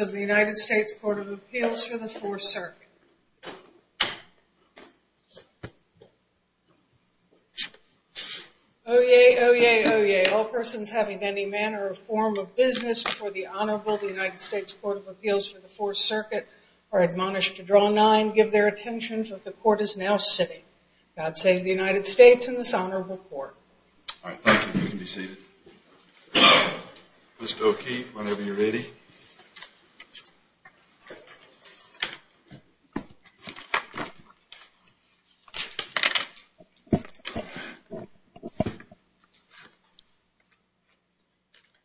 of the United States Court of Appeals for the Fourth Circuit. Oye, oye, oye, all persons having any manner or form of business before the Honorable of the United States Court of Appeals for the Fourth Circuit are admonished to draw nine, give their attention, for the Court is now sitting. God save the United States and this Honorable Court. All right, thank you. You can be seated. Mr. O'Keefe, whenever you're ready.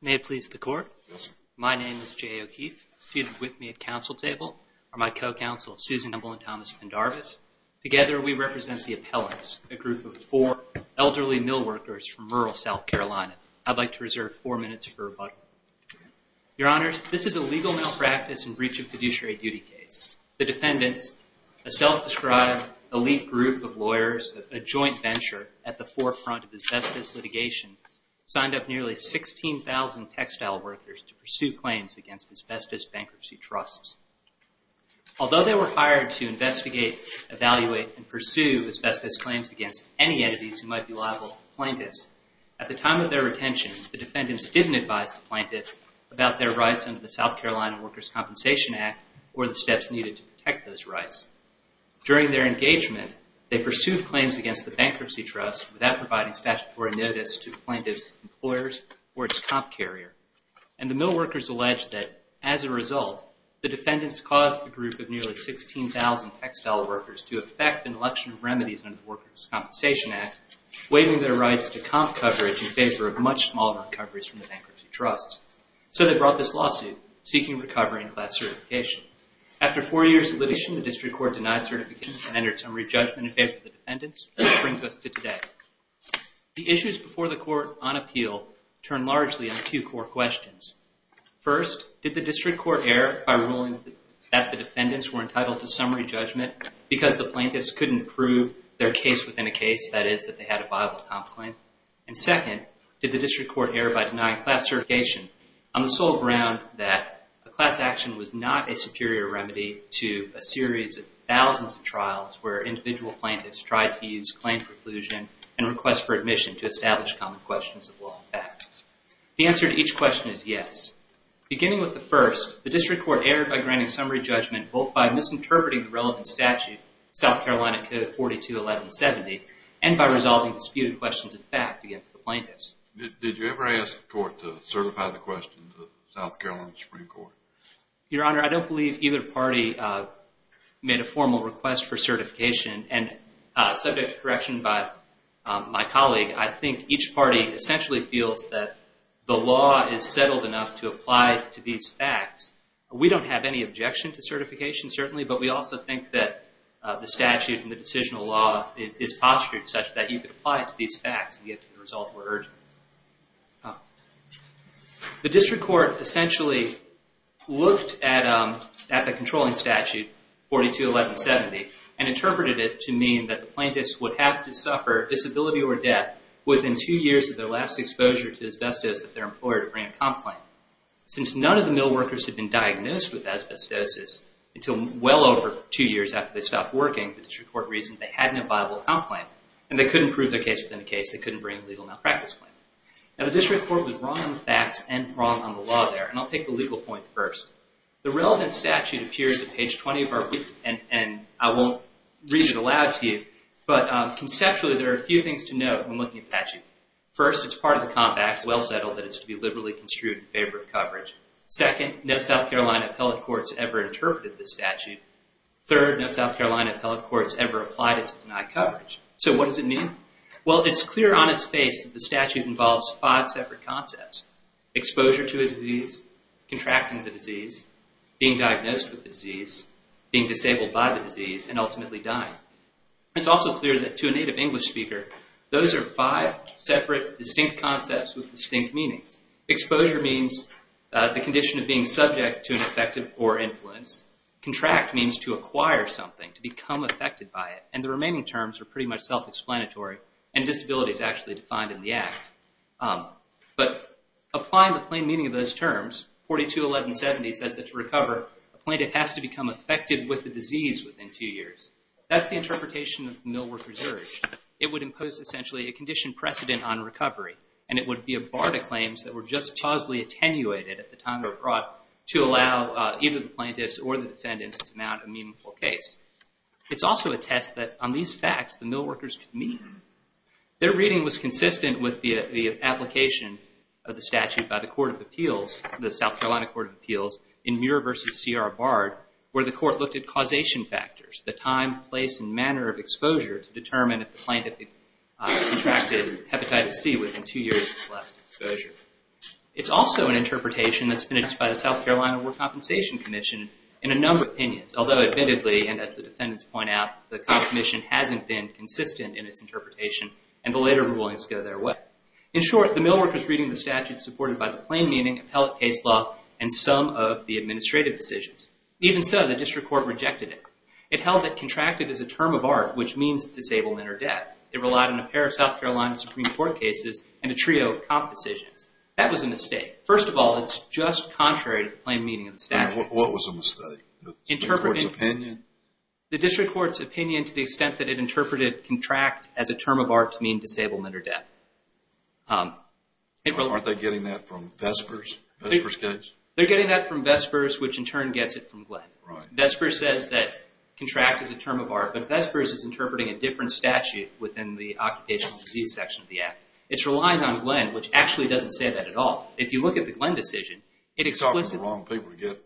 May it please the Court? Yes, sir. My name is J.A. O'Keefe. Seated with me at council table are my co-counsel, Susan Humble and Thomas Pendarvis. Together we represent the appellants, a group of four elderly mill workers from rural South Carolina. I'd like to reserve four minutes for rebuttal. Your Honors, this is a legal malpractice and breach of fiduciary duty case. The defendants, a self-described elite group of lawyers, a joint venture at the forefront of asbestos litigation, signed up nearly 16,000 textile workers to pursue claims against asbestos bankruptcy trusts. Although they were hired to investigate, evaluate, and pursue asbestos claims against any entities who might be liable to the plaintiffs, at the time of their retention, the defendants didn't advise the plaintiffs about their rights under the South Carolina Workers' Compensation Act or the steps needed to protect those rights. During their engagement, they pursued claims against the bankruptcy trust without providing statutory notice to the plaintiffs' employers or its comp carrier. And the mill workers alleged that, as a result, the defendants caused the group of nearly 16,000 textile workers to effect an election of remedies under the Workers' Compensation Act, waiving their rights to comp coverage in favor of much smaller recoveries from the bankruptcy trusts. So they brought this lawsuit, seeking recovery and class certification. After four years of litigation, the district court denied certification and entered summary judgment in favor of the defendants, which brings us to today. The issues before the court on appeal turn largely into two core questions. First, did the district court err by ruling that the defendants were entitled to summary judgment because the plaintiffs couldn't prove their case within a case, that is, that they had a viable comp claim? And second, did the district court err by denying class certification on the sole ground that a class action was not a superior remedy to a series of thousands of trials where individual plaintiffs tried to use claim preclusion and request for admission to establish common questions of law and fact? The answer to each question is yes. Beginning with the first, the district court erred by granting summary judgment both by misinterpreting the relevant statute, South Carolina Code 421170, and by resolving disputed questions of fact against the plaintiffs. Did you ever ask the court to certify the questions of South Carolina Supreme Court? Your Honor, I don't believe either party made a formal request for certification, and subject to correction by my colleague, I think each party essentially feels that the law is settled enough to apply to these facts. We don't have any objection to certification, certainly, but we also think that the statute and the decisional law is postured such that you could apply it to these facts and get to the result where urgent. The district court essentially looked at the controlling statute, 421170, and interpreted it to mean that the plaintiffs would have to suffer disability or death within two years of their last exposure to asbestos at their employer to grant a comp claim. Since none of the mill workers had been diagnosed with asbestosis until well over two years after they stopped working, the district court reasoned they had no viable comp claim, and they couldn't prove their case within the case. They couldn't bring a legal malpractice claim. Now, the district court was wrong on the facts and wrong on the law there, and I'll take the legal point first. The relevant statute appears at page 20 of our brief, and I won't read it aloud to you, but conceptually there are a few things to note when looking at the statute. First, it's part of the Comp Act. It's well settled that it's to be liberally construed in favor of coverage. Second, no South Carolina appellate courts ever interpreted this statute. Third, no South Carolina appellate courts ever applied it to deny coverage. So what does it mean? Well, it's clear on its face that the statute involves five separate concepts. Exposure to a disease, contracting the disease, being diagnosed with the disease, being disabled by the disease, and ultimately dying. It's also clear that to a native English speaker, those are five separate, distinct concepts with distinct meanings. Exposure means the condition of being subject to an effective or influence. Contract means to acquire something, to become affected by it. And the remaining terms are pretty much self-explanatory, and disability is actually defined in the Act. But applying the plain meaning of those terms, 42-1170 says that to recover, a plaintiff has to become affected with the disease within two years. That's the interpretation of the Millworkers' Urge. It would impose, essentially, a condition precedent on recovery. And it would be a bar to claims that were just causally attenuated at the time they were brought to allow either the plaintiffs or the defendants to mount a meaningful case. It's also a test that on these facts, the millworkers could meet. Their reading was consistent with the application of the statute by the Court of Appeals, the South Carolina Court of Appeals, in Muir v. C.R. Bard, where the court looked at causation factors, the time, place, and manner of exposure to determine if the plaintiff contracted Hepatitis C within two years of his last exposure. It's also an interpretation that's finished by the South Carolina Work Compensation Commission in a number of opinions, although admittedly, and as the defendants point out, the commission hasn't been consistent in its interpretation, and the later rulings go their way. In short, the millworkers' reading of the statute is supported by the plain meaning, appellate case law, and some of the administrative decisions. Even so, the district court rejected it. It held that contracted is a term of art which means disablement or death. It relied on a pair of South Carolina Supreme Court cases and a trio of comp decisions. That was a mistake. First of all, it's just contrary to the plain meaning of the statute. What was a mistake? The court's opinion? The district court's opinion to the extent that it interpreted contract as a term of art to mean disablement or death. Aren't they getting that from Vesper's case? They're getting that from Vesper's, which in turn gets it from Glenn. Vesper says that contract is a term of art, but Vesper's is interpreting a different statute within the occupational disease section of the act. It's relying on Glenn, which actually doesn't say that at all. You're talking to the wrong people to get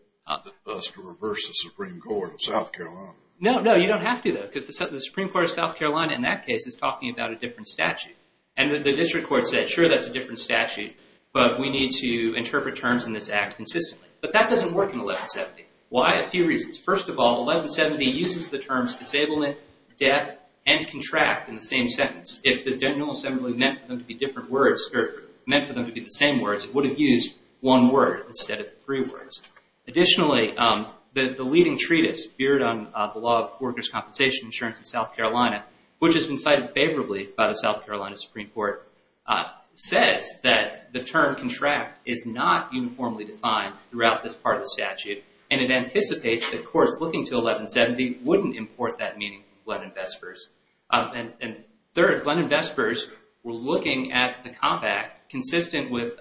us to reverse the Supreme Court of South Carolina. No, no, you don't have to, though, because the Supreme Court of South Carolina in that case is talking about a different statute. And the district court said, sure, that's a different statute, but we need to interpret terms in this act consistently. But that doesn't work in 1170. Why? A few reasons. First of all, 1170 uses the terms disablement, death, and contract in the same sentence. If the General Assembly meant for them to be the same words, it would have used one word instead of three words. Additionally, the leading treatise, Beard on the Law of Workers' Compensation and Insurance in South Carolina, which has been cited favorably by the South Carolina Supreme Court, says that the term contract is not uniformly defined throughout this part of the statute. And it anticipates that courts looking to 1170 wouldn't import that meaning from Glenn and Vesper's. And third, Glenn and Vesper's were looking at the Comp Act consistent with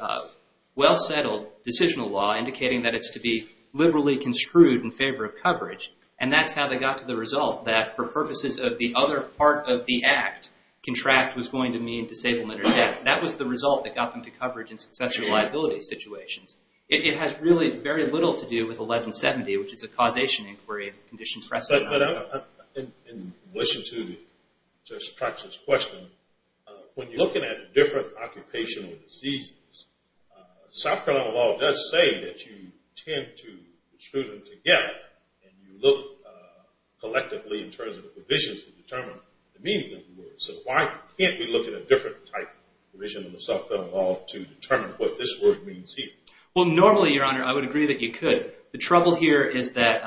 well-settled decisional law, indicating that it's to be liberally construed in favor of coverage. And that's how they got to the result that for purposes of the other part of the act, contract was going to mean disablement or death. That was the result that got them to coverage in successor liability situations. It has really very little to do with 1170, which is a causation inquiry in conditions precedent. In relation to Justice Trach's question, when you're looking at different occupational diseases, South Carolina law does say that you tend to extrude them together and you look collectively in terms of provisions to determine the meaning of the word. So why can't we look at a different type of provision in the South Carolina law to determine what this word means here? Well, normally, Your Honor, I would agree that you could. The trouble here is that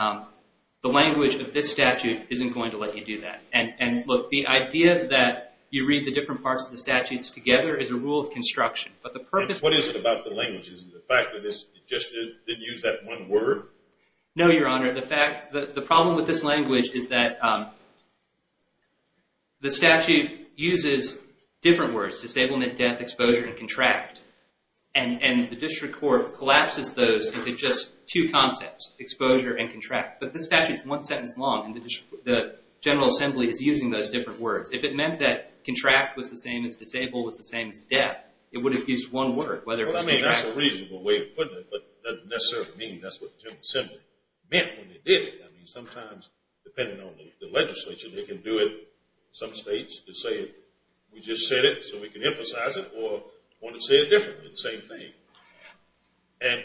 the language of this statute isn't going to let you do that. And look, the idea that you read the different parts of the statutes together is a rule of construction. What is it about the language? Is it the fact that it just didn't use that one word? No, Your Honor. The problem with this language is that the statute uses different words, disablement, death, exposure, and contract. And the district court collapses those into just two concepts, exposure and contract. But this statute is one sentence long, and the General Assembly is using those different words. If it meant that contract was the same as disabled, was the same as death, it would have used one word, whether it was contract. I mean, that's a reasonable way of putting it, but it doesn't necessarily mean that's what the General Assembly meant when they did it. I mean, sometimes, depending on the legislature, they can do it in some states to say we just said it so we can emphasize it or want to say it differently, the same thing. And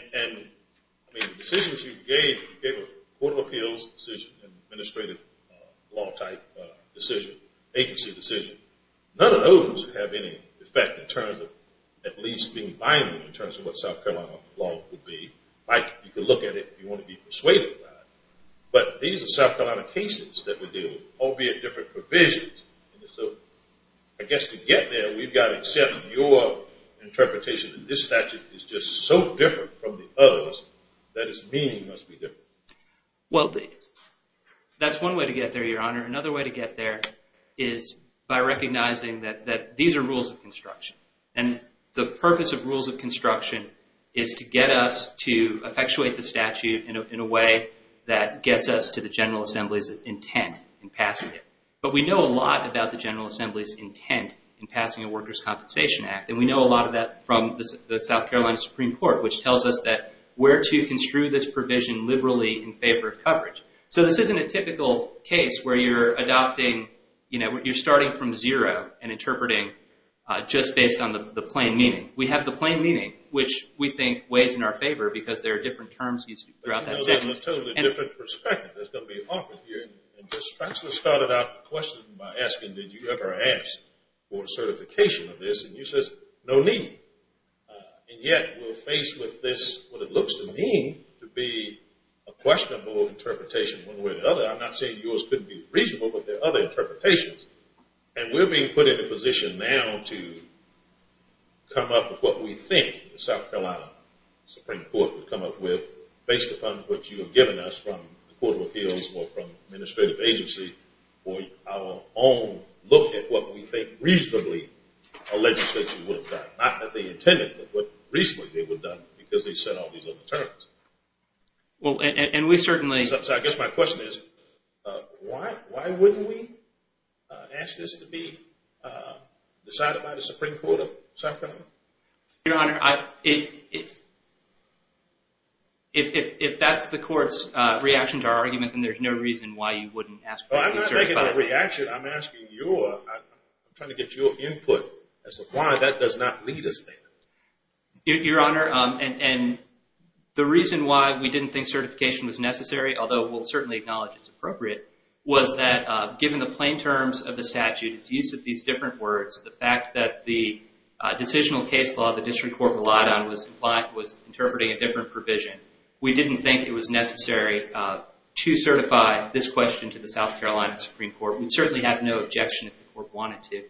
the decisions you gave, the Court of Appeals decision, administrative law type decision, agency decision, none of those have any effect in terms of at least being binding in terms of what South Carolina law would be. You can look at it if you want to be persuaded by it. But these are South Carolina cases that we deal with, albeit different provisions. And so I guess to get there, we've got to accept your interpretation that this statute is just so different from the others that its meaning must be different. Well, that's one way to get there, Your Honor. Another way to get there is by recognizing that these are rules of construction. And the purpose of rules of construction is to get us to effectuate the statute in a way that gets us to the General Assembly's intent in passing it. But we know a lot about the General Assembly's intent in passing the Workers' Compensation Act, and we know a lot of that from the South Carolina Supreme Court, which tells us where to construe this provision liberally in favor of coverage. So this isn't a typical case where you're adopting, you know, you're starting from zero and interpreting just based on the plain meaning. We have the plain meaning, which we think weighs in our favor because there are different terms used throughout that section. Well, that's a totally different perspective that's going to be offered here. And Judge Spatzler started out the question by asking, did you ever ask for certification of this? And you said, no need. And yet we're faced with this, what it looks to me to be a questionable interpretation one way or the other. I'm not saying yours couldn't be reasonable, but there are other interpretations. And we're being put in a position now to come up with what we think the South Carolina Supreme Court would come up with based upon what you have given us from the Court of Appeals or from administrative agency or our own look at what we think reasonably a legislature would have done. Not that they intended, but what reasonably they would have done because they said all these other terms. Well, and we certainly – So I guess my question is, why wouldn't we ask this to be decided by the Supreme Court of South Carolina? Your Honor, if that's the court's reaction to our argument, then there's no reason why you wouldn't ask for it to be certified. Well, I'm not making a reaction. I'm asking your – I'm trying to get your input as to why that does not lead us there. Your Honor, and the reason why we didn't think certification was necessary, although we'll certainly acknowledge it's appropriate, was that given the plain terms of the statute, its use of these different words, the fact that the decisional case law the district court relied on was interpreting a different provision, we didn't think it was necessary to certify this question to the South Carolina Supreme Court. We'd certainly have no objection if the court wanted to.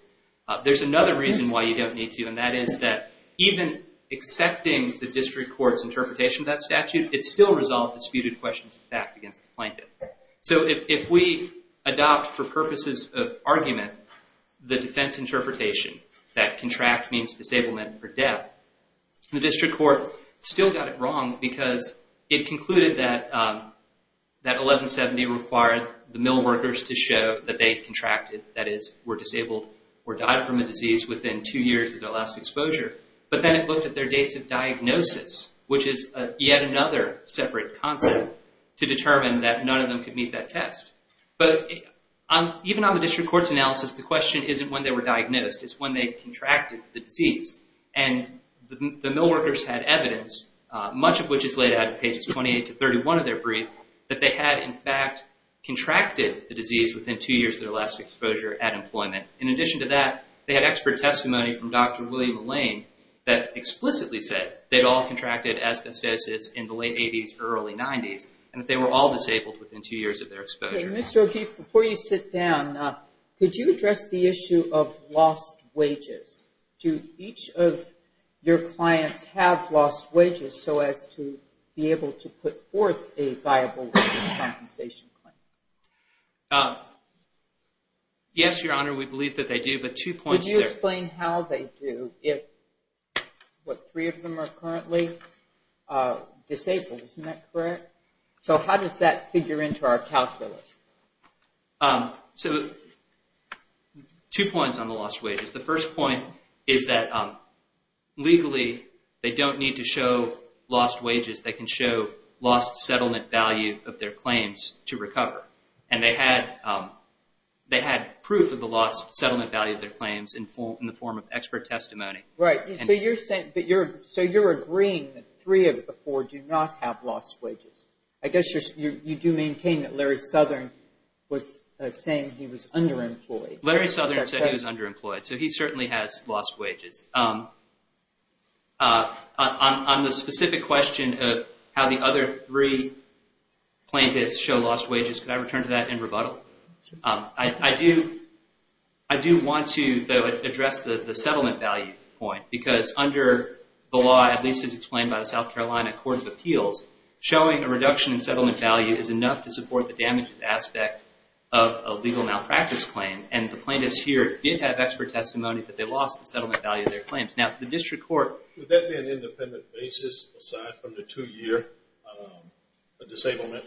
There's another reason why you don't need to, and that is that even accepting the district court's interpretation of that statute, it still resolved disputed questions of fact against the plaintiff. So if we adopt for purposes of argument the defense interpretation that contract means disablement or death, the district court still got it wrong because it concluded that 1170 required the mill workers to show that they contracted, that is, were disabled or died from a disease within two years of their last exposure, but then it looked at their dates of diagnosis, which is yet another separate concept, to determine that none of them could meet that test. But even on the district court's analysis, the question isn't when they were diagnosed. It's when they contracted the disease, and the mill workers had evidence, much of which is laid out in pages 28 to 31 of their brief, that they had, in fact, contracted the disease within two years of their last exposure at employment. In addition to that, they had expert testimony from Dr. William Lane that explicitly said that they'd all contracted asbestosis in the late 80s, early 90s, and that they were all disabled within two years of their exposure. Mr. O'Keefe, before you sit down, could you address the issue of lost wages? Do each of your clients have lost wages so as to be able to put forth a viable compensation claim? Yes, Your Honor, we believe that they do, but two points there. Could you explain how they do if, what, three of them are currently disabled? Isn't that correct? So how does that figure into our calculus? So two points on the lost wages. The first point is that legally they don't need to show lost wages. They can show lost settlement value of their claims to recover. And they had proof of the lost settlement value of their claims in the form of expert testimony. Right. So you're agreeing that three of the four do not have lost wages. I guess you do maintain that Larry Southern was saying he was underemployed. Larry Southern said he was underemployed, so he certainly has lost wages. On the specific question of how the other three plaintiffs show lost wages, could I return to that in rebuttal? I do want to address the settlement value point because under the law, at least as explained by the South Carolina Court of Appeals, showing a reduction in settlement value is enough to support the damages aspect of a legal malpractice claim. And the plaintiffs here did have expert testimony that they lost the settlement value of their claims. Would that be an independent basis aside from the two-year disablement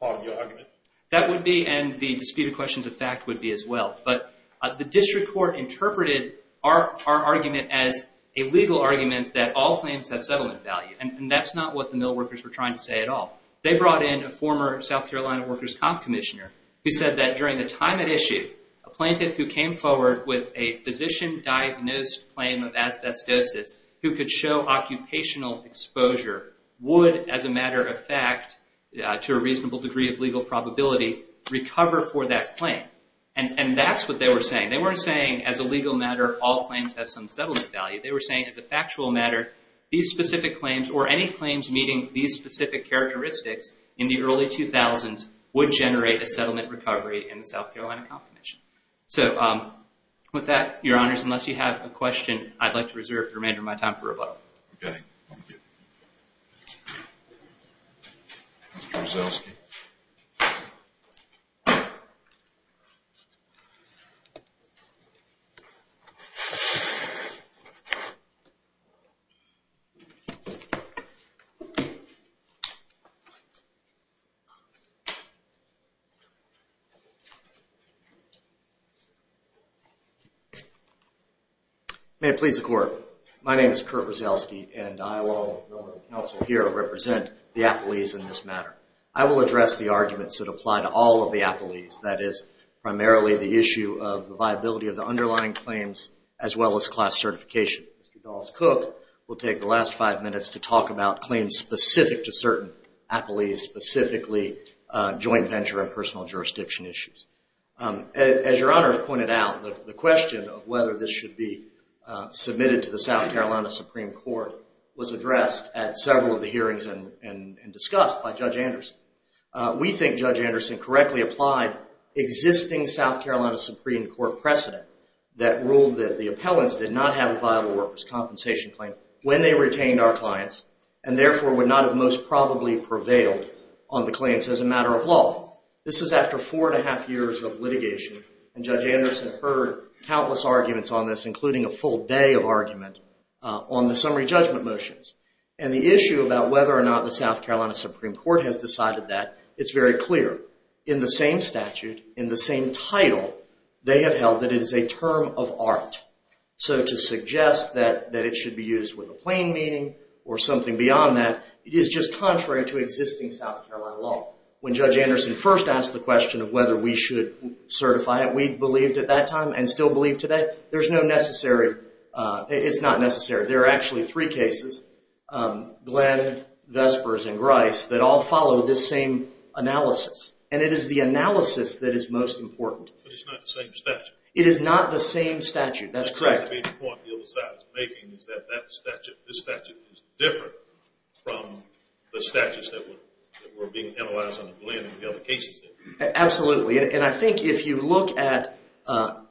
part of your argument? That would be, and the disputed questions of fact would be as well. But the district court interpreted our argument as a legal argument that all claims have settlement value. And that's not what the mill workers were trying to say at all. They brought in a former South Carolina workers' comp commissioner who said that during the time at issue, a plaintiff who came forward with a physician-diagnosed claim of asbestosis who could show occupational exposure would, as a matter of fact, to a reasonable degree of legal probability, recover for that claim. And that's what they were saying. They weren't saying as a legal matter all claims have some settlement value. They were saying as a factual matter these specific claims or any claims meeting these specific characteristics in the early 2000s would generate a settlement recovery in the South Carolina comp commission. So with that, Your Honors, unless you have a question, I'd like to reserve the remainder of my time for rebuttal. Okay. Thank you. Mr. Brzezelski. May it please the Court. My name is Kurt Brzezelski, and I will also here represent the appellees in this matter. I will address the arguments that apply to all of the appellees. That is primarily the issue of the viability of the underlying claims as well as class certification. Mr. Dawes-Cook will take the last five minutes to talk about claims specific to certain appellees, specifically joint venture and personal jurisdiction issues. As Your Honors pointed out, the question of whether this should be submitted to the South Carolina Supreme Court was addressed at several of the hearings and discussed by Judge Anderson. We think Judge Anderson correctly applied existing South Carolina Supreme Court precedent that ruled that the appellants did not have a viable workers' compensation claim when they retained our clients and therefore would not have most probably prevailed on the claims as a matter of law. This is after four and a half years of litigation, and Judge Anderson heard countless arguments on this, on the summary judgment motions. And the issue about whether or not the South Carolina Supreme Court has decided that, it's very clear. In the same statute, in the same title, they have held that it is a term of art. So to suggest that it should be used with a plain meaning or something beyond that is just contrary to existing South Carolina law. When Judge Anderson first asked the question of whether we should certify it, and still believe to that, there's no necessary, it's not necessary. There are actually three cases, Glenn, Vespers, and Grice, that all follow this same analysis. And it is the analysis that is most important. But it's not the same statute. It is not the same statute, that's correct. The point the other side is making is that this statute is different from the statutes that were being analyzed under Glenn and the other cases. Absolutely. And I think if you look at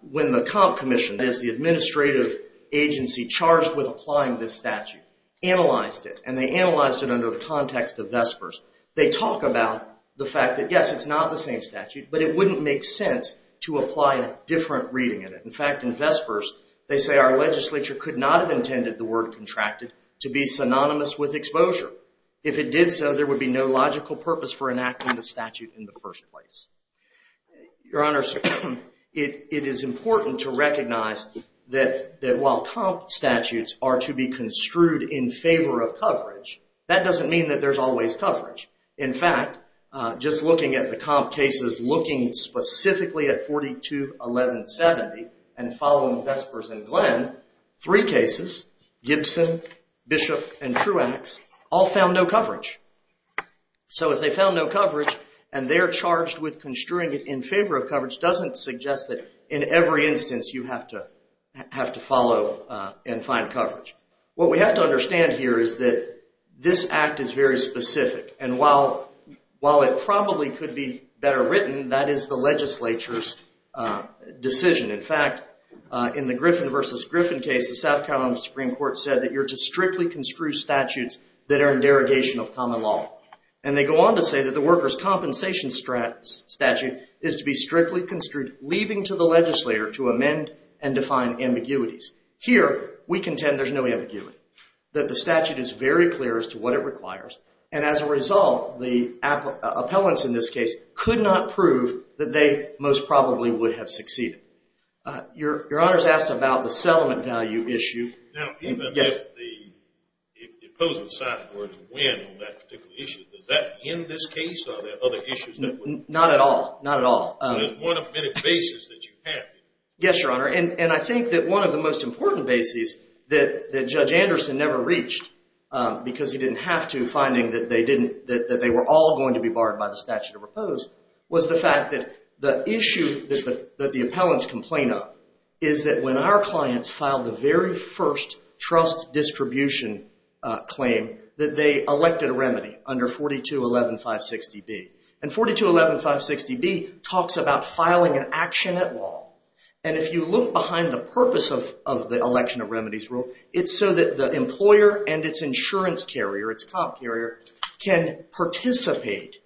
when the comp commission is the administrative agency charged with applying this statute, analyzed it, and they analyzed it under the context of Vespers, they talk about the fact that, yes, it's not the same statute, but it wouldn't make sense to apply a different reading of it. In fact, in Vespers, they say our legislature could not have intended the word contracted to be synonymous with exposure. If it did so, there would be no logical purpose for enacting the statute in the first place. Your Honor, it is important to recognize that while comp statutes are to be construed in favor of coverage, that doesn't mean that there's always coverage. In fact, just looking at the comp cases, looking specifically at 42-1170, and following Vespers and Glenn, three cases, Gibson, Bishop, and Truax, all found no coverage. So if they found no coverage, and they're charged with construing it in favor of coverage, doesn't suggest that in every instance you have to follow and find coverage. What we have to understand here is that this act is very specific, and while it probably could be better written, that is the legislature's decision. In fact, in the Griffin v. Griffin case, the South Carolina Supreme Court said that you're to strictly construe statutes that are in derogation of common law. And they go on to say that the workers' compensation statute is to be strictly construed, leaving to the legislator to amend and define ambiguities. Here, we contend there's no ambiguity, that the statute is very clear as to what it requires, and as a result, the appellants in this case could not prove that they most probably would have succeeded. Your Honor's asked about the settlement value issue. Now, even if the opposing side were to win on that particular issue, does that end this case, or are there other issues that would? Not at all. Not at all. But it's one of many bases that you have. Yes, Your Honor, and I think that one of the most important bases that Judge Anderson never reached, because he didn't have to, finding that they were all going to be barred by the statute of repose, was the fact that the issue that the appellants complain of is that when our clients filed the very first trust distribution claim, that they elected a remedy under 4211-560-B. And 4211-560-B talks about filing an action at law. And if you look behind the purpose of the election of remedies rule, it's so that the employer and its insurance carrier, its cop carrier, can participate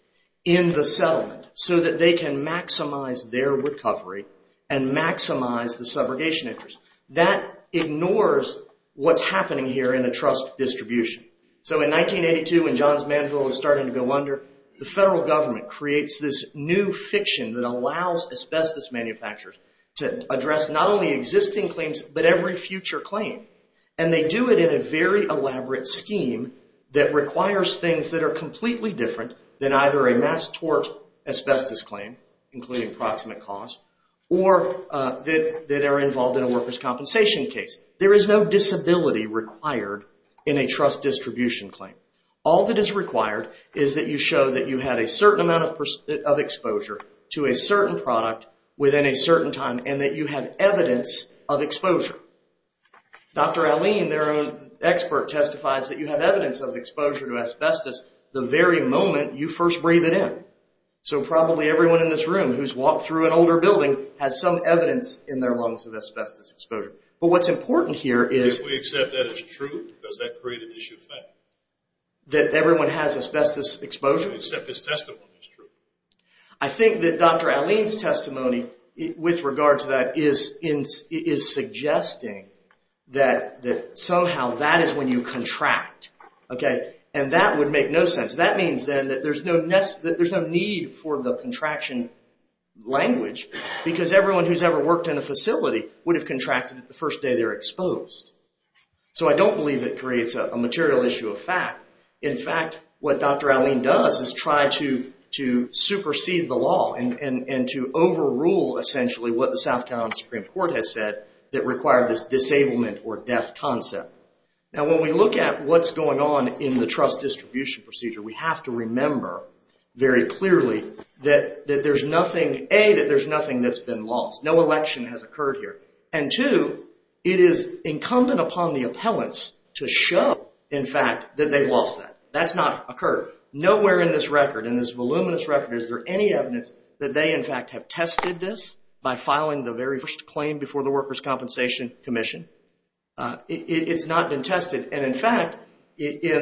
in the settlement so that they can maximize their recovery and maximize the subrogation interest. That ignores what's happening here in a trust distribution. So in 1982, when Johns Manville was starting to go under, the federal government creates this new fiction that allows asbestos manufacturers to address not only existing claims, but every future claim. And they do it in a very elaborate scheme that requires things that are completely different than either a mass tort asbestos claim, including proximate cause, or that are involved in a workers' compensation case. There is no disability required in a trust distribution claim. All that is required is that you show that you had a certain amount of exposure to a certain product within a certain time and that you have evidence of exposure. Dr. Alleyne, their own expert, testifies that you have evidence of exposure to asbestos the very moment you first breathe it in. So probably everyone in this room who's walked through an older building has some evidence in their lungs of asbestos exposure. But what's important here is... If we accept that as true, does that create an issue of fact? That everyone has asbestos exposure? If we accept his testimony as true. I think that Dr. Alleyne's testimony with regard to that is suggesting that somehow that is when you contract. And that would make no sense. That means then that there's no need for the contraction language because everyone who's ever worked in a facility would have contracted the first day they were exposed. So I don't believe it creates a material issue of fact. In fact, what Dr. Alleyne does is try to supersede the law and to overrule essentially what the South Carolina Supreme Court has said that required this disablement or death concept. Now when we look at what's going on in the trust distribution procedure, we have to remember very clearly that there's nothing... A, that there's nothing that's been lost. No election has occurred here. And two, it is incumbent upon the appellants to show, in fact, that they've lost that. That's not occurred. Nowhere in this record, in this voluminous record, is there any evidence that they, in fact, have tested this by filing the very first claim before the Workers' Compensation Commission. It's not been tested. And in fact, in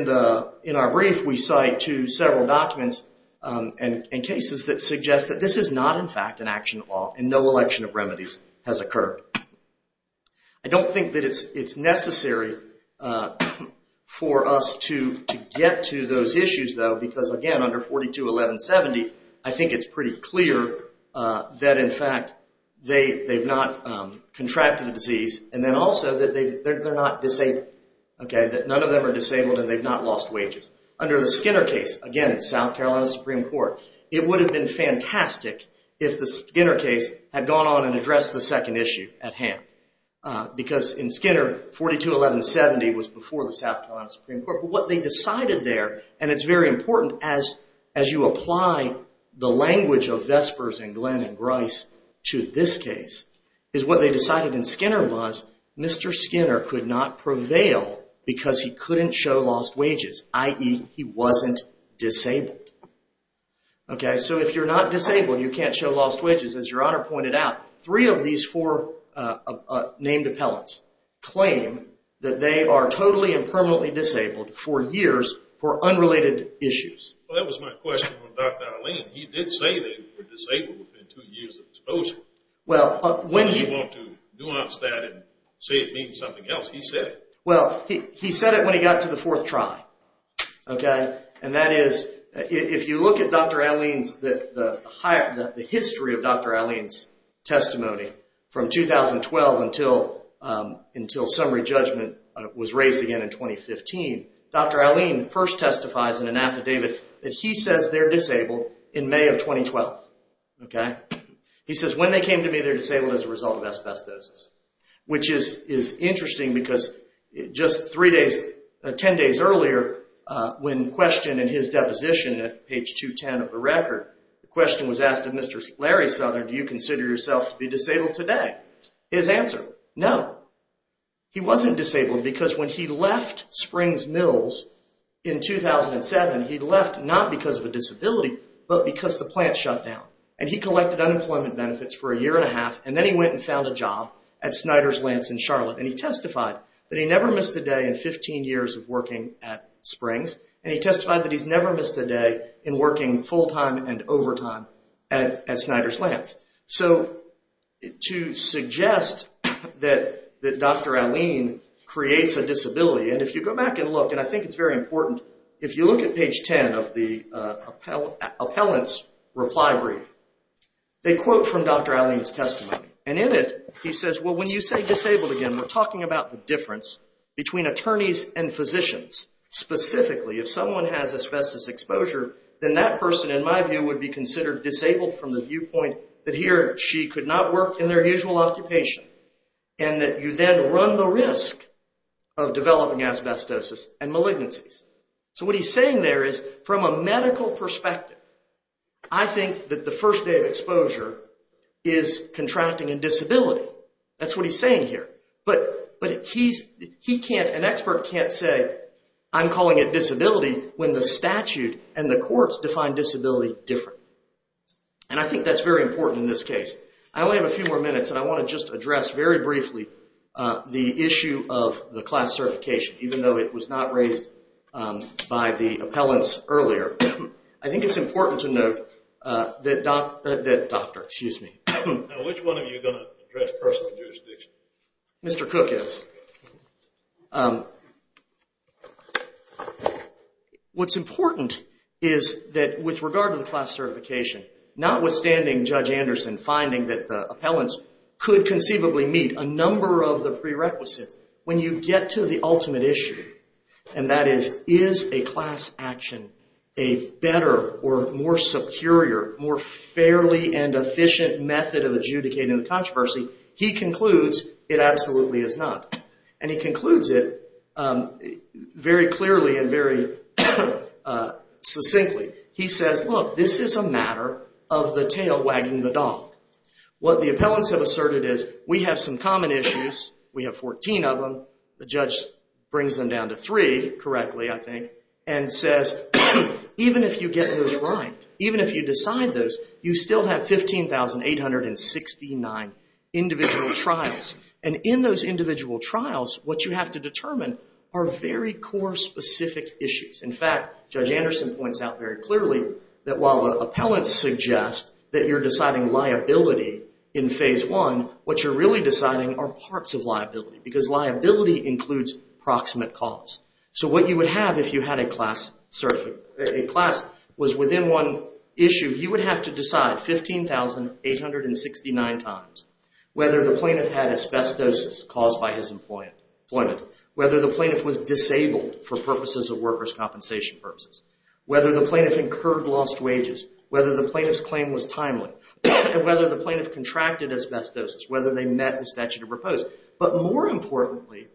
our brief, we cite to several documents and cases that suggest that this is not, in fact, an action of law and no election of remedies has occurred. I don't think that it's necessary for us to get to those issues, though, because, again, under 421170, I think it's pretty clear that, in fact, they've not contracted the disease and then also that they're not disabled. Okay, that none of them are disabled and they've not lost wages. Under the Skinner case, again, South Carolina Supreme Court, it would have been fantastic if the Skinner case had gone on and addressed the second issue at hand because in Skinner, 421170 was before the South Carolina Supreme Court. But what they decided there, and it's very important as you apply the language of Vespers and Glenn and Grice to this case, is what they decided in Skinner was Mr. Skinner could not prevail because he couldn't show lost wages, i.e. he wasn't disabled. Okay, so if you're not disabled, you can't show lost wages. As Your Honor pointed out, three of these four named appellants claim that they are totally and permanently disabled for years for unrelated issues. Well, that was my question to Dr. Alleyne. He did say they were disabled within two years of disposal. Well, when he... I don't want to nuance that and say it means something else. He said it. Well, he said it when he got to the fourth try. And that is, if you look at Dr. Alleyne's... the history of Dr. Alleyne's testimony from 2012 until summary judgment was raised again in 2015, Dr. Alleyne first testifies in an affidavit that he says they're disabled in May of 2012. He says, when they came to me, they're disabled as a result of asbestosis, which is interesting because just three days... ten days earlier, when questioned in his deposition at page 210 of the record, the question was asked of Mr. Larry Southern, do you consider yourself to be disabled today? His answer, no. He wasn't disabled because when he left Springs Mills in 2007, he left not because of a disability, but because the plant shut down. And he collected unemployment benefits for a year and a half, and then he went and found a job at Snyder's Lance in Charlotte, and he testified that he never missed a day in 15 years of working at Springs, and he testified that he's never missed a day in working full-time and overtime at Snyder's Lance. So, to suggest that Dr. Alleyne creates a disability, and if you go back and look, and I think it's very important, if you look at page 10 of the appellant's reply brief, they quote from Dr. Alleyne's testimony. And in it, he says, well, when you say disabled again, we're talking about the difference between attorneys and physicians. Specifically, if someone has asbestos exposure, then that person, in my view, would be considered disabled from the viewpoint that he or she could not work in their usual occupation, and that you then run the risk of developing asbestosis and malignancies. So, what he's saying there is, from a medical perspective, I think that the first day of exposure is contracting a disability. That's what he's saying here. But an expert can't say, I'm calling it disability, when the statute and the courts define disability different. And I think that's very important in this case. I only have a few more minutes, and I want to just address very briefly the issue of the class certification, even though it was not raised by the appellants earlier. I think it's important to note that doctor, excuse me. Now, which one of you is going to address personal jurisdiction? Mr. Cook is. What's important is that, with regard to the class certification, notwithstanding Judge Anderson finding that the appellants could conceivably meet a number of the prerequisites, when you get to the ultimate issue, and that is, is a class action a better or more superior, more fairly and efficient method of adjudicating the controversy, he concludes it absolutely is not. And he concludes it very clearly and very succinctly. He says, look, this is a matter of the tail wagging the dog. What the appellants have asserted is, we have some common issues, we have 14 of them, the judge brings them down to three, correctly, I think, and says, even if you get those right, even if you decide those, you still have 15,869 individual trials. And in those individual trials, what you have to determine are very core specific issues. In fact, Judge Anderson points out very clearly that while the appellants suggest that you're deciding liability in phase one, what you're really deciding are parts of liability, because liability includes proximate cause. So what you would have if you had a class, certainly a class was within one issue, you would have to decide 15,869 times whether the plaintiff had asbestosis caused by his employment, whether the plaintiff was disabled for purposes of workers' compensation purposes, whether the plaintiff incurred lost wages, whether the plaintiff's claim was timely, and whether the plaintiff contracted asbestosis, whether they met the statute of proposed. But more importantly,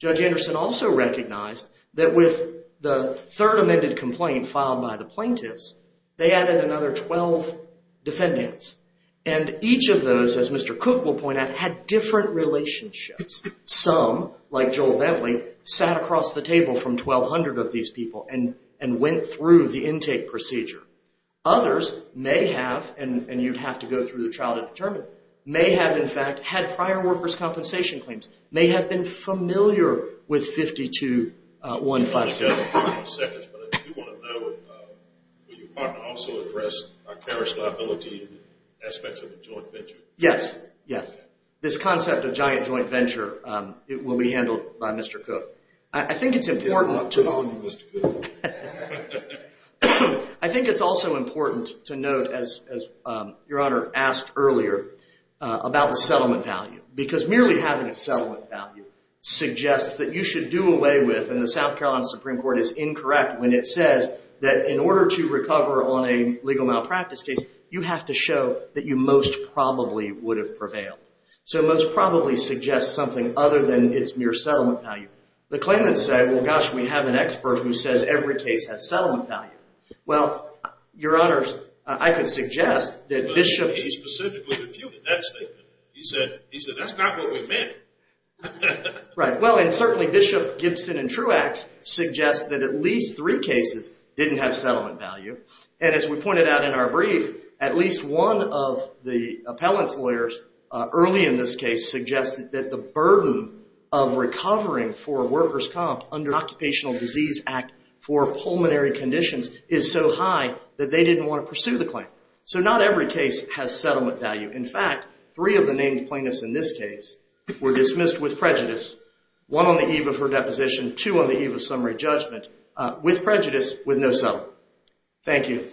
Judge Anderson also recognized that with the third amended complaint filed by the plaintiffs, they added another 12 defendants. And each of those, as Mr. Cook will point out, had different relationships. Some, like Joel Bentley, sat across the table from 1,200 of these people and went through the intake procedure. Others may have, and you'd have to go through the trial to determine, may have, in fact, had prior workers' compensation claims, may have been familiar with 52-156. Just a few more seconds, but I do want to know, will your partner also address carriage liability and aspects of the joint venture? Yes, yes. This concept of giant joint venture will be handled by Mr. Cook. I think it's important to... I'll put it on you, Mr. Cook. I think it's also important to note, as Your Honor asked earlier, about the settlement value, because merely having a settlement value suggests that you should do away with, and the South Carolina Supreme Court is incorrect when it says that in order to recover on a legal malpractice case, you have to show that you most probably would have prevailed. So it most probably suggests something other than its mere settlement value. The claimants say, well, gosh, we have an expert who says every case has settlement value. Well, Your Honors, I could suggest that Bishop... He specifically refuted that statement. He said, that's not what we meant. Right. Well, and certainly Bishop, Gibson, and Truax suggest that at least three cases didn't have settlement value, and as we pointed out in our brief, at least one of the appellants' lawyers early in this case suggested that the burden of recovering for workers' comp under the Occupational Disease Act for pulmonary conditions is so high that they didn't want to pursue the claim. So not every case has settlement value. In fact, three of the named plaintiffs in this case were dismissed with prejudice, one on the eve of her deposition, two on the eve of summary judgment, with prejudice, with no settlement. Thank you.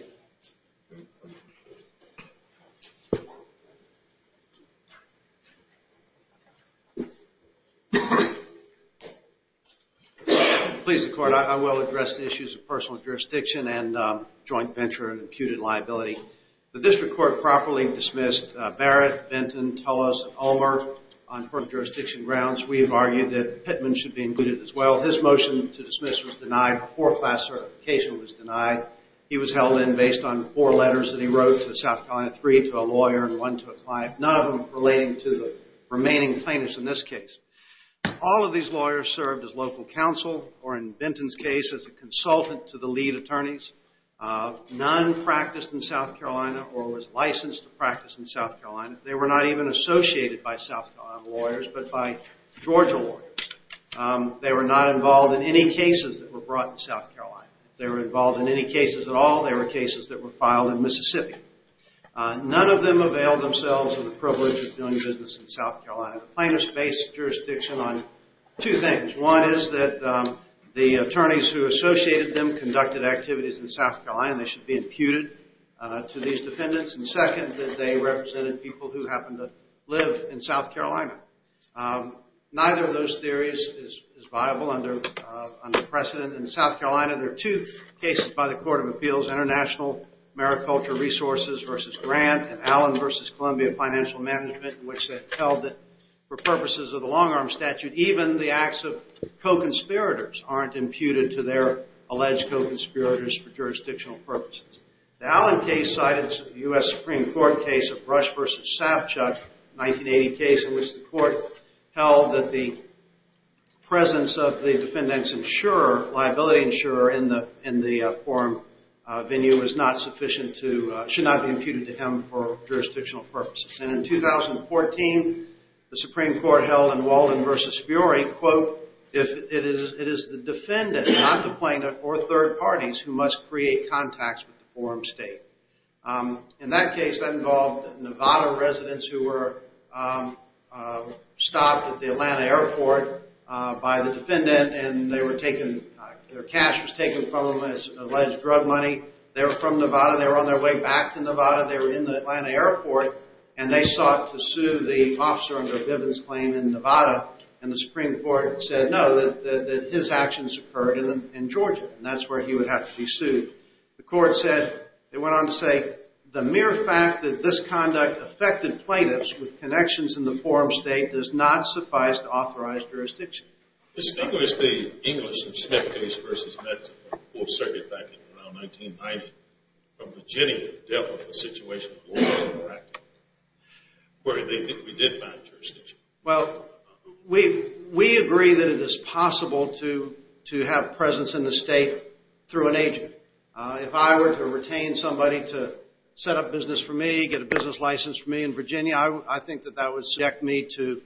Please, the Court. I will address the issues of personal jurisdiction and joint venture and imputed liability. The District Court properly dismissed Barrett, Benton, Tullos, and Ulmer on court jurisdiction grounds. We have argued that Pittman should be included as well. His motion to dismiss was denied. A four-class certification was denied. He was held in based on four letters that he wrote to the South Carolina Three, to a lawyer, and one to a client, none of them relating to the remaining plaintiffs in this case. All of these lawyers served as local counsel, or in Benton's case, as a consultant to the lead attorneys. None practiced in South Carolina or was licensed to practice in South Carolina. They were not even associated by South Carolina lawyers, but by Georgia lawyers. They were not involved in any cases that were brought in South Carolina. If they were involved in any cases at all, they were cases that were filed in Mississippi. None of them availed themselves of the privilege of doing business in South Carolina. Plaintiffs based jurisdiction on two things. One is that the attorneys who associated them conducted activities in South Carolina. They should be imputed to these defendants. And second, that they represented people who happened to live in South Carolina. Neither of those theories is viable under precedent. In South Carolina, there are two cases by the Court of Appeals, International Mariculture Resources v. Grant and Allen v. Columbia Financial Management, in which they held that for purposes of the long-arm statute, even the acts of co-conspirators aren't imputed to their alleged co-conspirators for jurisdictional purposes. The Allen case cited the U.S. Supreme Court case of Rush v. Savchuk, a 1980 case in which the court held that the presence of the defendant's insurer, liability insurer, in the forum venue was not sufficient to, should not be imputed to him for jurisdictional purposes. And in 2014, the Supreme Court held in Walden v. Furey, quote, it is the defendant, not the plaintiff or third parties, who must create contacts with the forum state. In that case, that involved Nevada residents who were stopped at the Atlanta airport by the defendant and their cash was taken from them as alleged drug money. Nevada, they were in the Atlanta airport, and they sought to sue the officer under Bivens' claim in Nevada, and the Supreme Court said no, that his actions occurred in Georgia, and that's where he would have to be sued. The court said, they went on to say, the mere fact that this conduct affected plaintiffs with connections in the forum state does not suffice to authorize jurisdiction. Distinguished the English and Smith case v. Metz, Fourth Circuit back in around 1990, from Virginia dealt with the situation in Oregon directly, where they did find jurisdiction. Well, we agree that it is possible to have presence in the state through an agent. If I were to retain somebody to set up business for me, get a business license for me in Virginia, I think that that would subject me to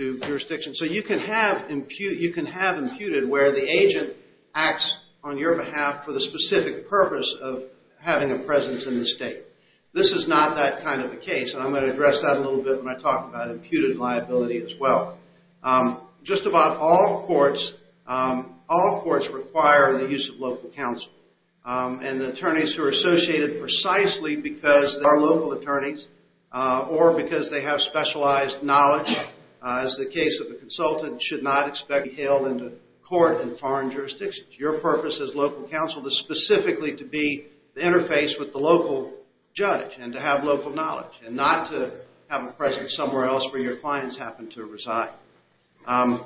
jurisdiction. So you can have imputed where the agent acts on your behalf for the specific purpose of having a presence in the state. This is not that kind of a case, and I'm going to address that a little bit when I talk about imputed liability as well. Just about all courts require the use of local counsel, and attorneys who are associated precisely because they are local attorneys or because they have specialized knowledge, as the case of the consultant, should not expect to be hailed into court in foreign jurisdictions. Your purpose as local counsel is specifically to be interfaced with the local judge and to have local knowledge and not to have a presence somewhere else where your clients happen to reside. I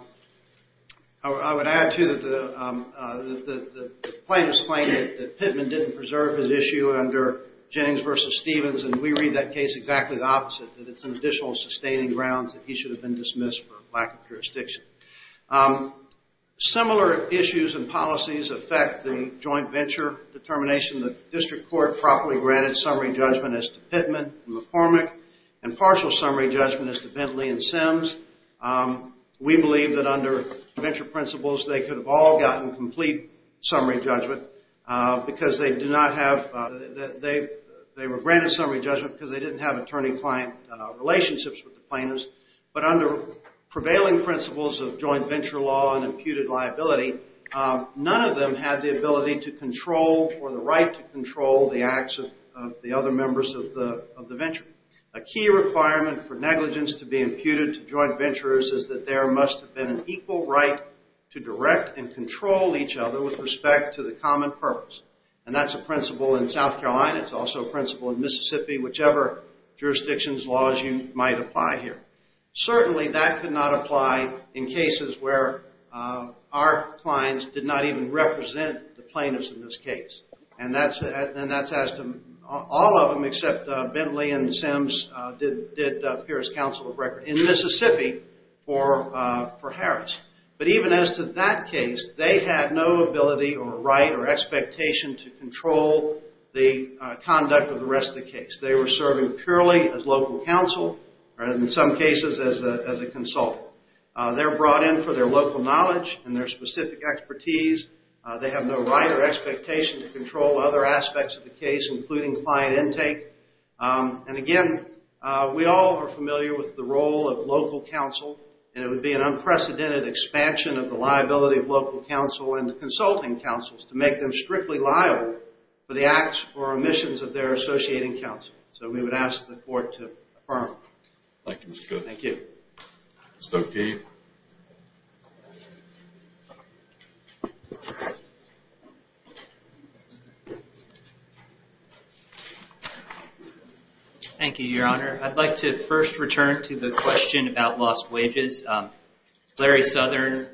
would add, too, that the plaintiffs claim that Pittman didn't preserve his issue under Jennings v. Stevens, and we read that case exactly the opposite, that it's an additional sustaining grounds that he should have been dismissed for lack of jurisdiction. Similar issues and policies affect the joint venture determination. The district court properly granted summary judgment as to Pittman and McCormick and partial summary judgment as to Bentley and Sims. We believe that under venture principles, they could have all gotten complete summary judgment because they were granted summary judgment because they didn't have attorney-client relationships with the plaintiffs, but under prevailing principles of joint venture law and imputed liability, none of them had the ability to control or the right to control the acts of the other members of the venture. A key requirement for negligence to be imputed to joint venturers is that there must have been an equal right to direct and control each other with respect to the common purpose, and that's a principle in South Carolina. It's also a principle in Mississippi, whichever jurisdiction's laws you might apply here. Certainly, that could not apply in cases where our clients did not even represent the plaintiffs in this case, and that's as to all of them except Bentley and Sims did appear as counsel of record in Mississippi for Harris. But even as to that case, they had no ability or right or expectation to control the conduct of the rest of the case. They were serving purely as local counsel or in some cases as a consultant. They were brought in for their local knowledge and their specific expertise. They have no right or expectation to control other aspects of the case, including client intake. And again, we all are familiar with the role of local counsel, and it would be an unprecedented expansion of the liability of local counsel and the consulting counsels to make them strictly liable for the acts or omissions of their associating counsel. So we would ask the court to affirm. Thank you, Mr. Cook. Thank you. Mr. O'Keefe. Thank you, Your Honor. I'd like to first return to the question about lost wages. Larry Southern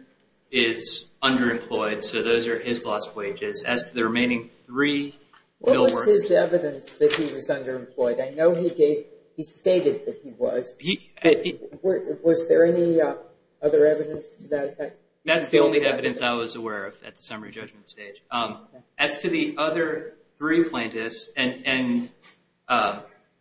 is underemployed, so those are his lost wages. As to the remaining three bill workers... What was his evidence that he was underemployed? I know he stated that he was. Was there any other evidence to that effect? That's the only evidence I was aware of at the summary judgment stage. As to the other three plaintiffs, and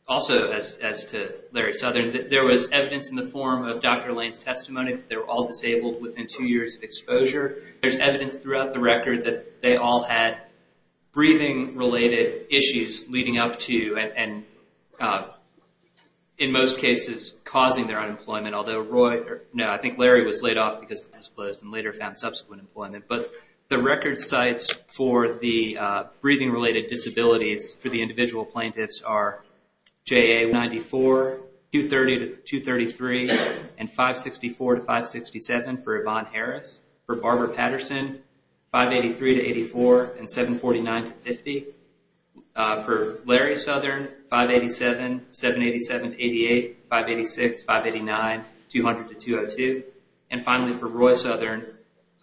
also as to Larry Southern, there was evidence in the form of Dr. Lane's testimony that they were all disabled within two years of exposure. There's evidence throughout the record that they all had breathing-related issues leading up to and, in most cases, causing their unemployment, although Roy... No, I think Larry was laid off because it was closed and later found subsequent employment. But the record sites for the breathing-related disabilities for the individual plaintiffs are JA-94, 230-233, and 564-567 for Yvonne Harris. For Barbara Patterson, 583-84 and 749-50. For Larry Southern, 587, 787-88, 586, 589, 200-202. And finally, for Roy Southern,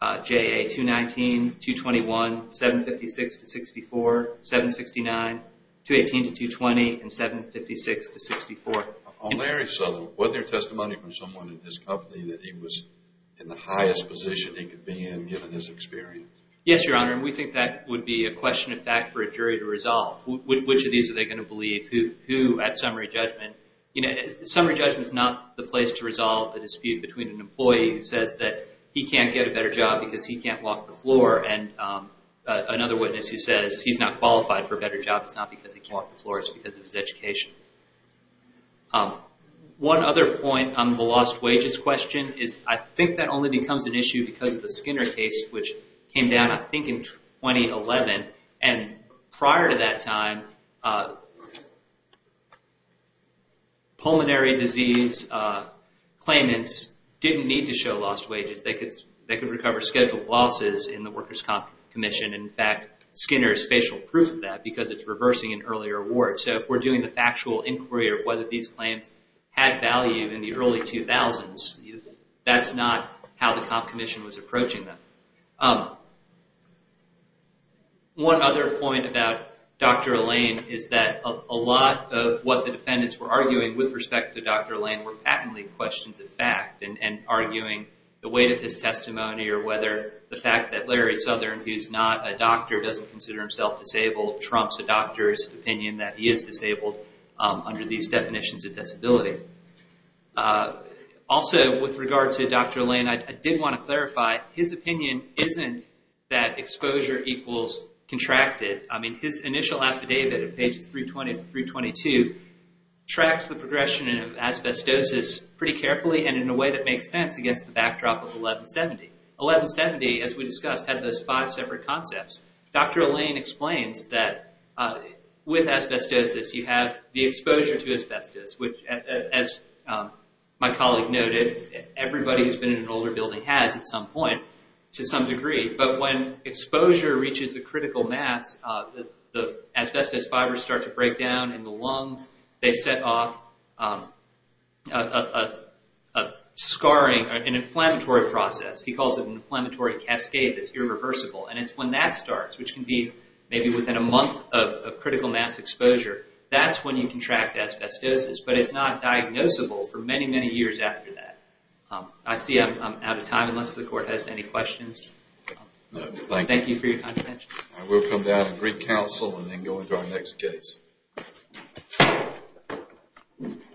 JA-219, 221, 756-64, 769, 218-220, and 756-64. On Larry Southern, was there testimony from someone in his company that he was in the highest position he could be in given his experience? Yes, Your Honor, and we think that would be a question of fact for a jury to resolve. Which of these are they going to believe? Who, at summary judgment? Summary judgment is not the place to resolve the dispute between an employee who says that he can't get a better job because he can't walk the floor, and another witness who says he's not qualified for a better job, it's not because he can't walk the floor, it's because of his education. One other point on the lost wages question is, I think that only becomes an issue because of the Skinner case, which came down, I think, in 2011. And prior to that time, pulmonary disease claimants didn't need to show lost wages. They could recover scheduled losses in the Workers' Comp Commission. In fact, Skinner is facial proof of that because it's reversing an earlier award. So if we're doing the factual inquiry of whether these claims had value in the early 2000s, that's not how the Comp Commission was approaching them. One other point about Dr. Allain is that a lot of what the defendants were arguing with respect to Dr. Allain were patently questions of fact, and arguing the weight of his testimony, or whether the fact that Larry Southern, who's not a doctor, doesn't consider himself disabled, trumps a doctor's opinion that he is disabled under these definitions of disability. Also, with regard to Dr. Allain, I did want to clarify, his opinion isn't that exposure equals contracted. I mean, his initial affidavit, pages 320 to 322, tracks the progression of asbestosis pretty carefully, and in a way that makes sense against the backdrop of 1170. 1170, as we discussed, had those five separate concepts. Dr. Allain explains that with asbestosis, you have the exposure to asbestos, which, as my colleague noted, everybody who's been in an older building has at some point, to some degree, but when exposure reaches a critical mass, the asbestos fibers start to break down in the lungs, they set off a scarring, an inflammatory process. He calls it an inflammatory cascade that's irreversible, and it's when that starts, which can be maybe within a month of critical mass exposure, that's when you contract asbestosis, but it's not diagnosable for many, many years after that. I see I'm out of time, unless the Court has any questions. Thank you for your kind attention. We'll come down and re-counsel and then go into our next case.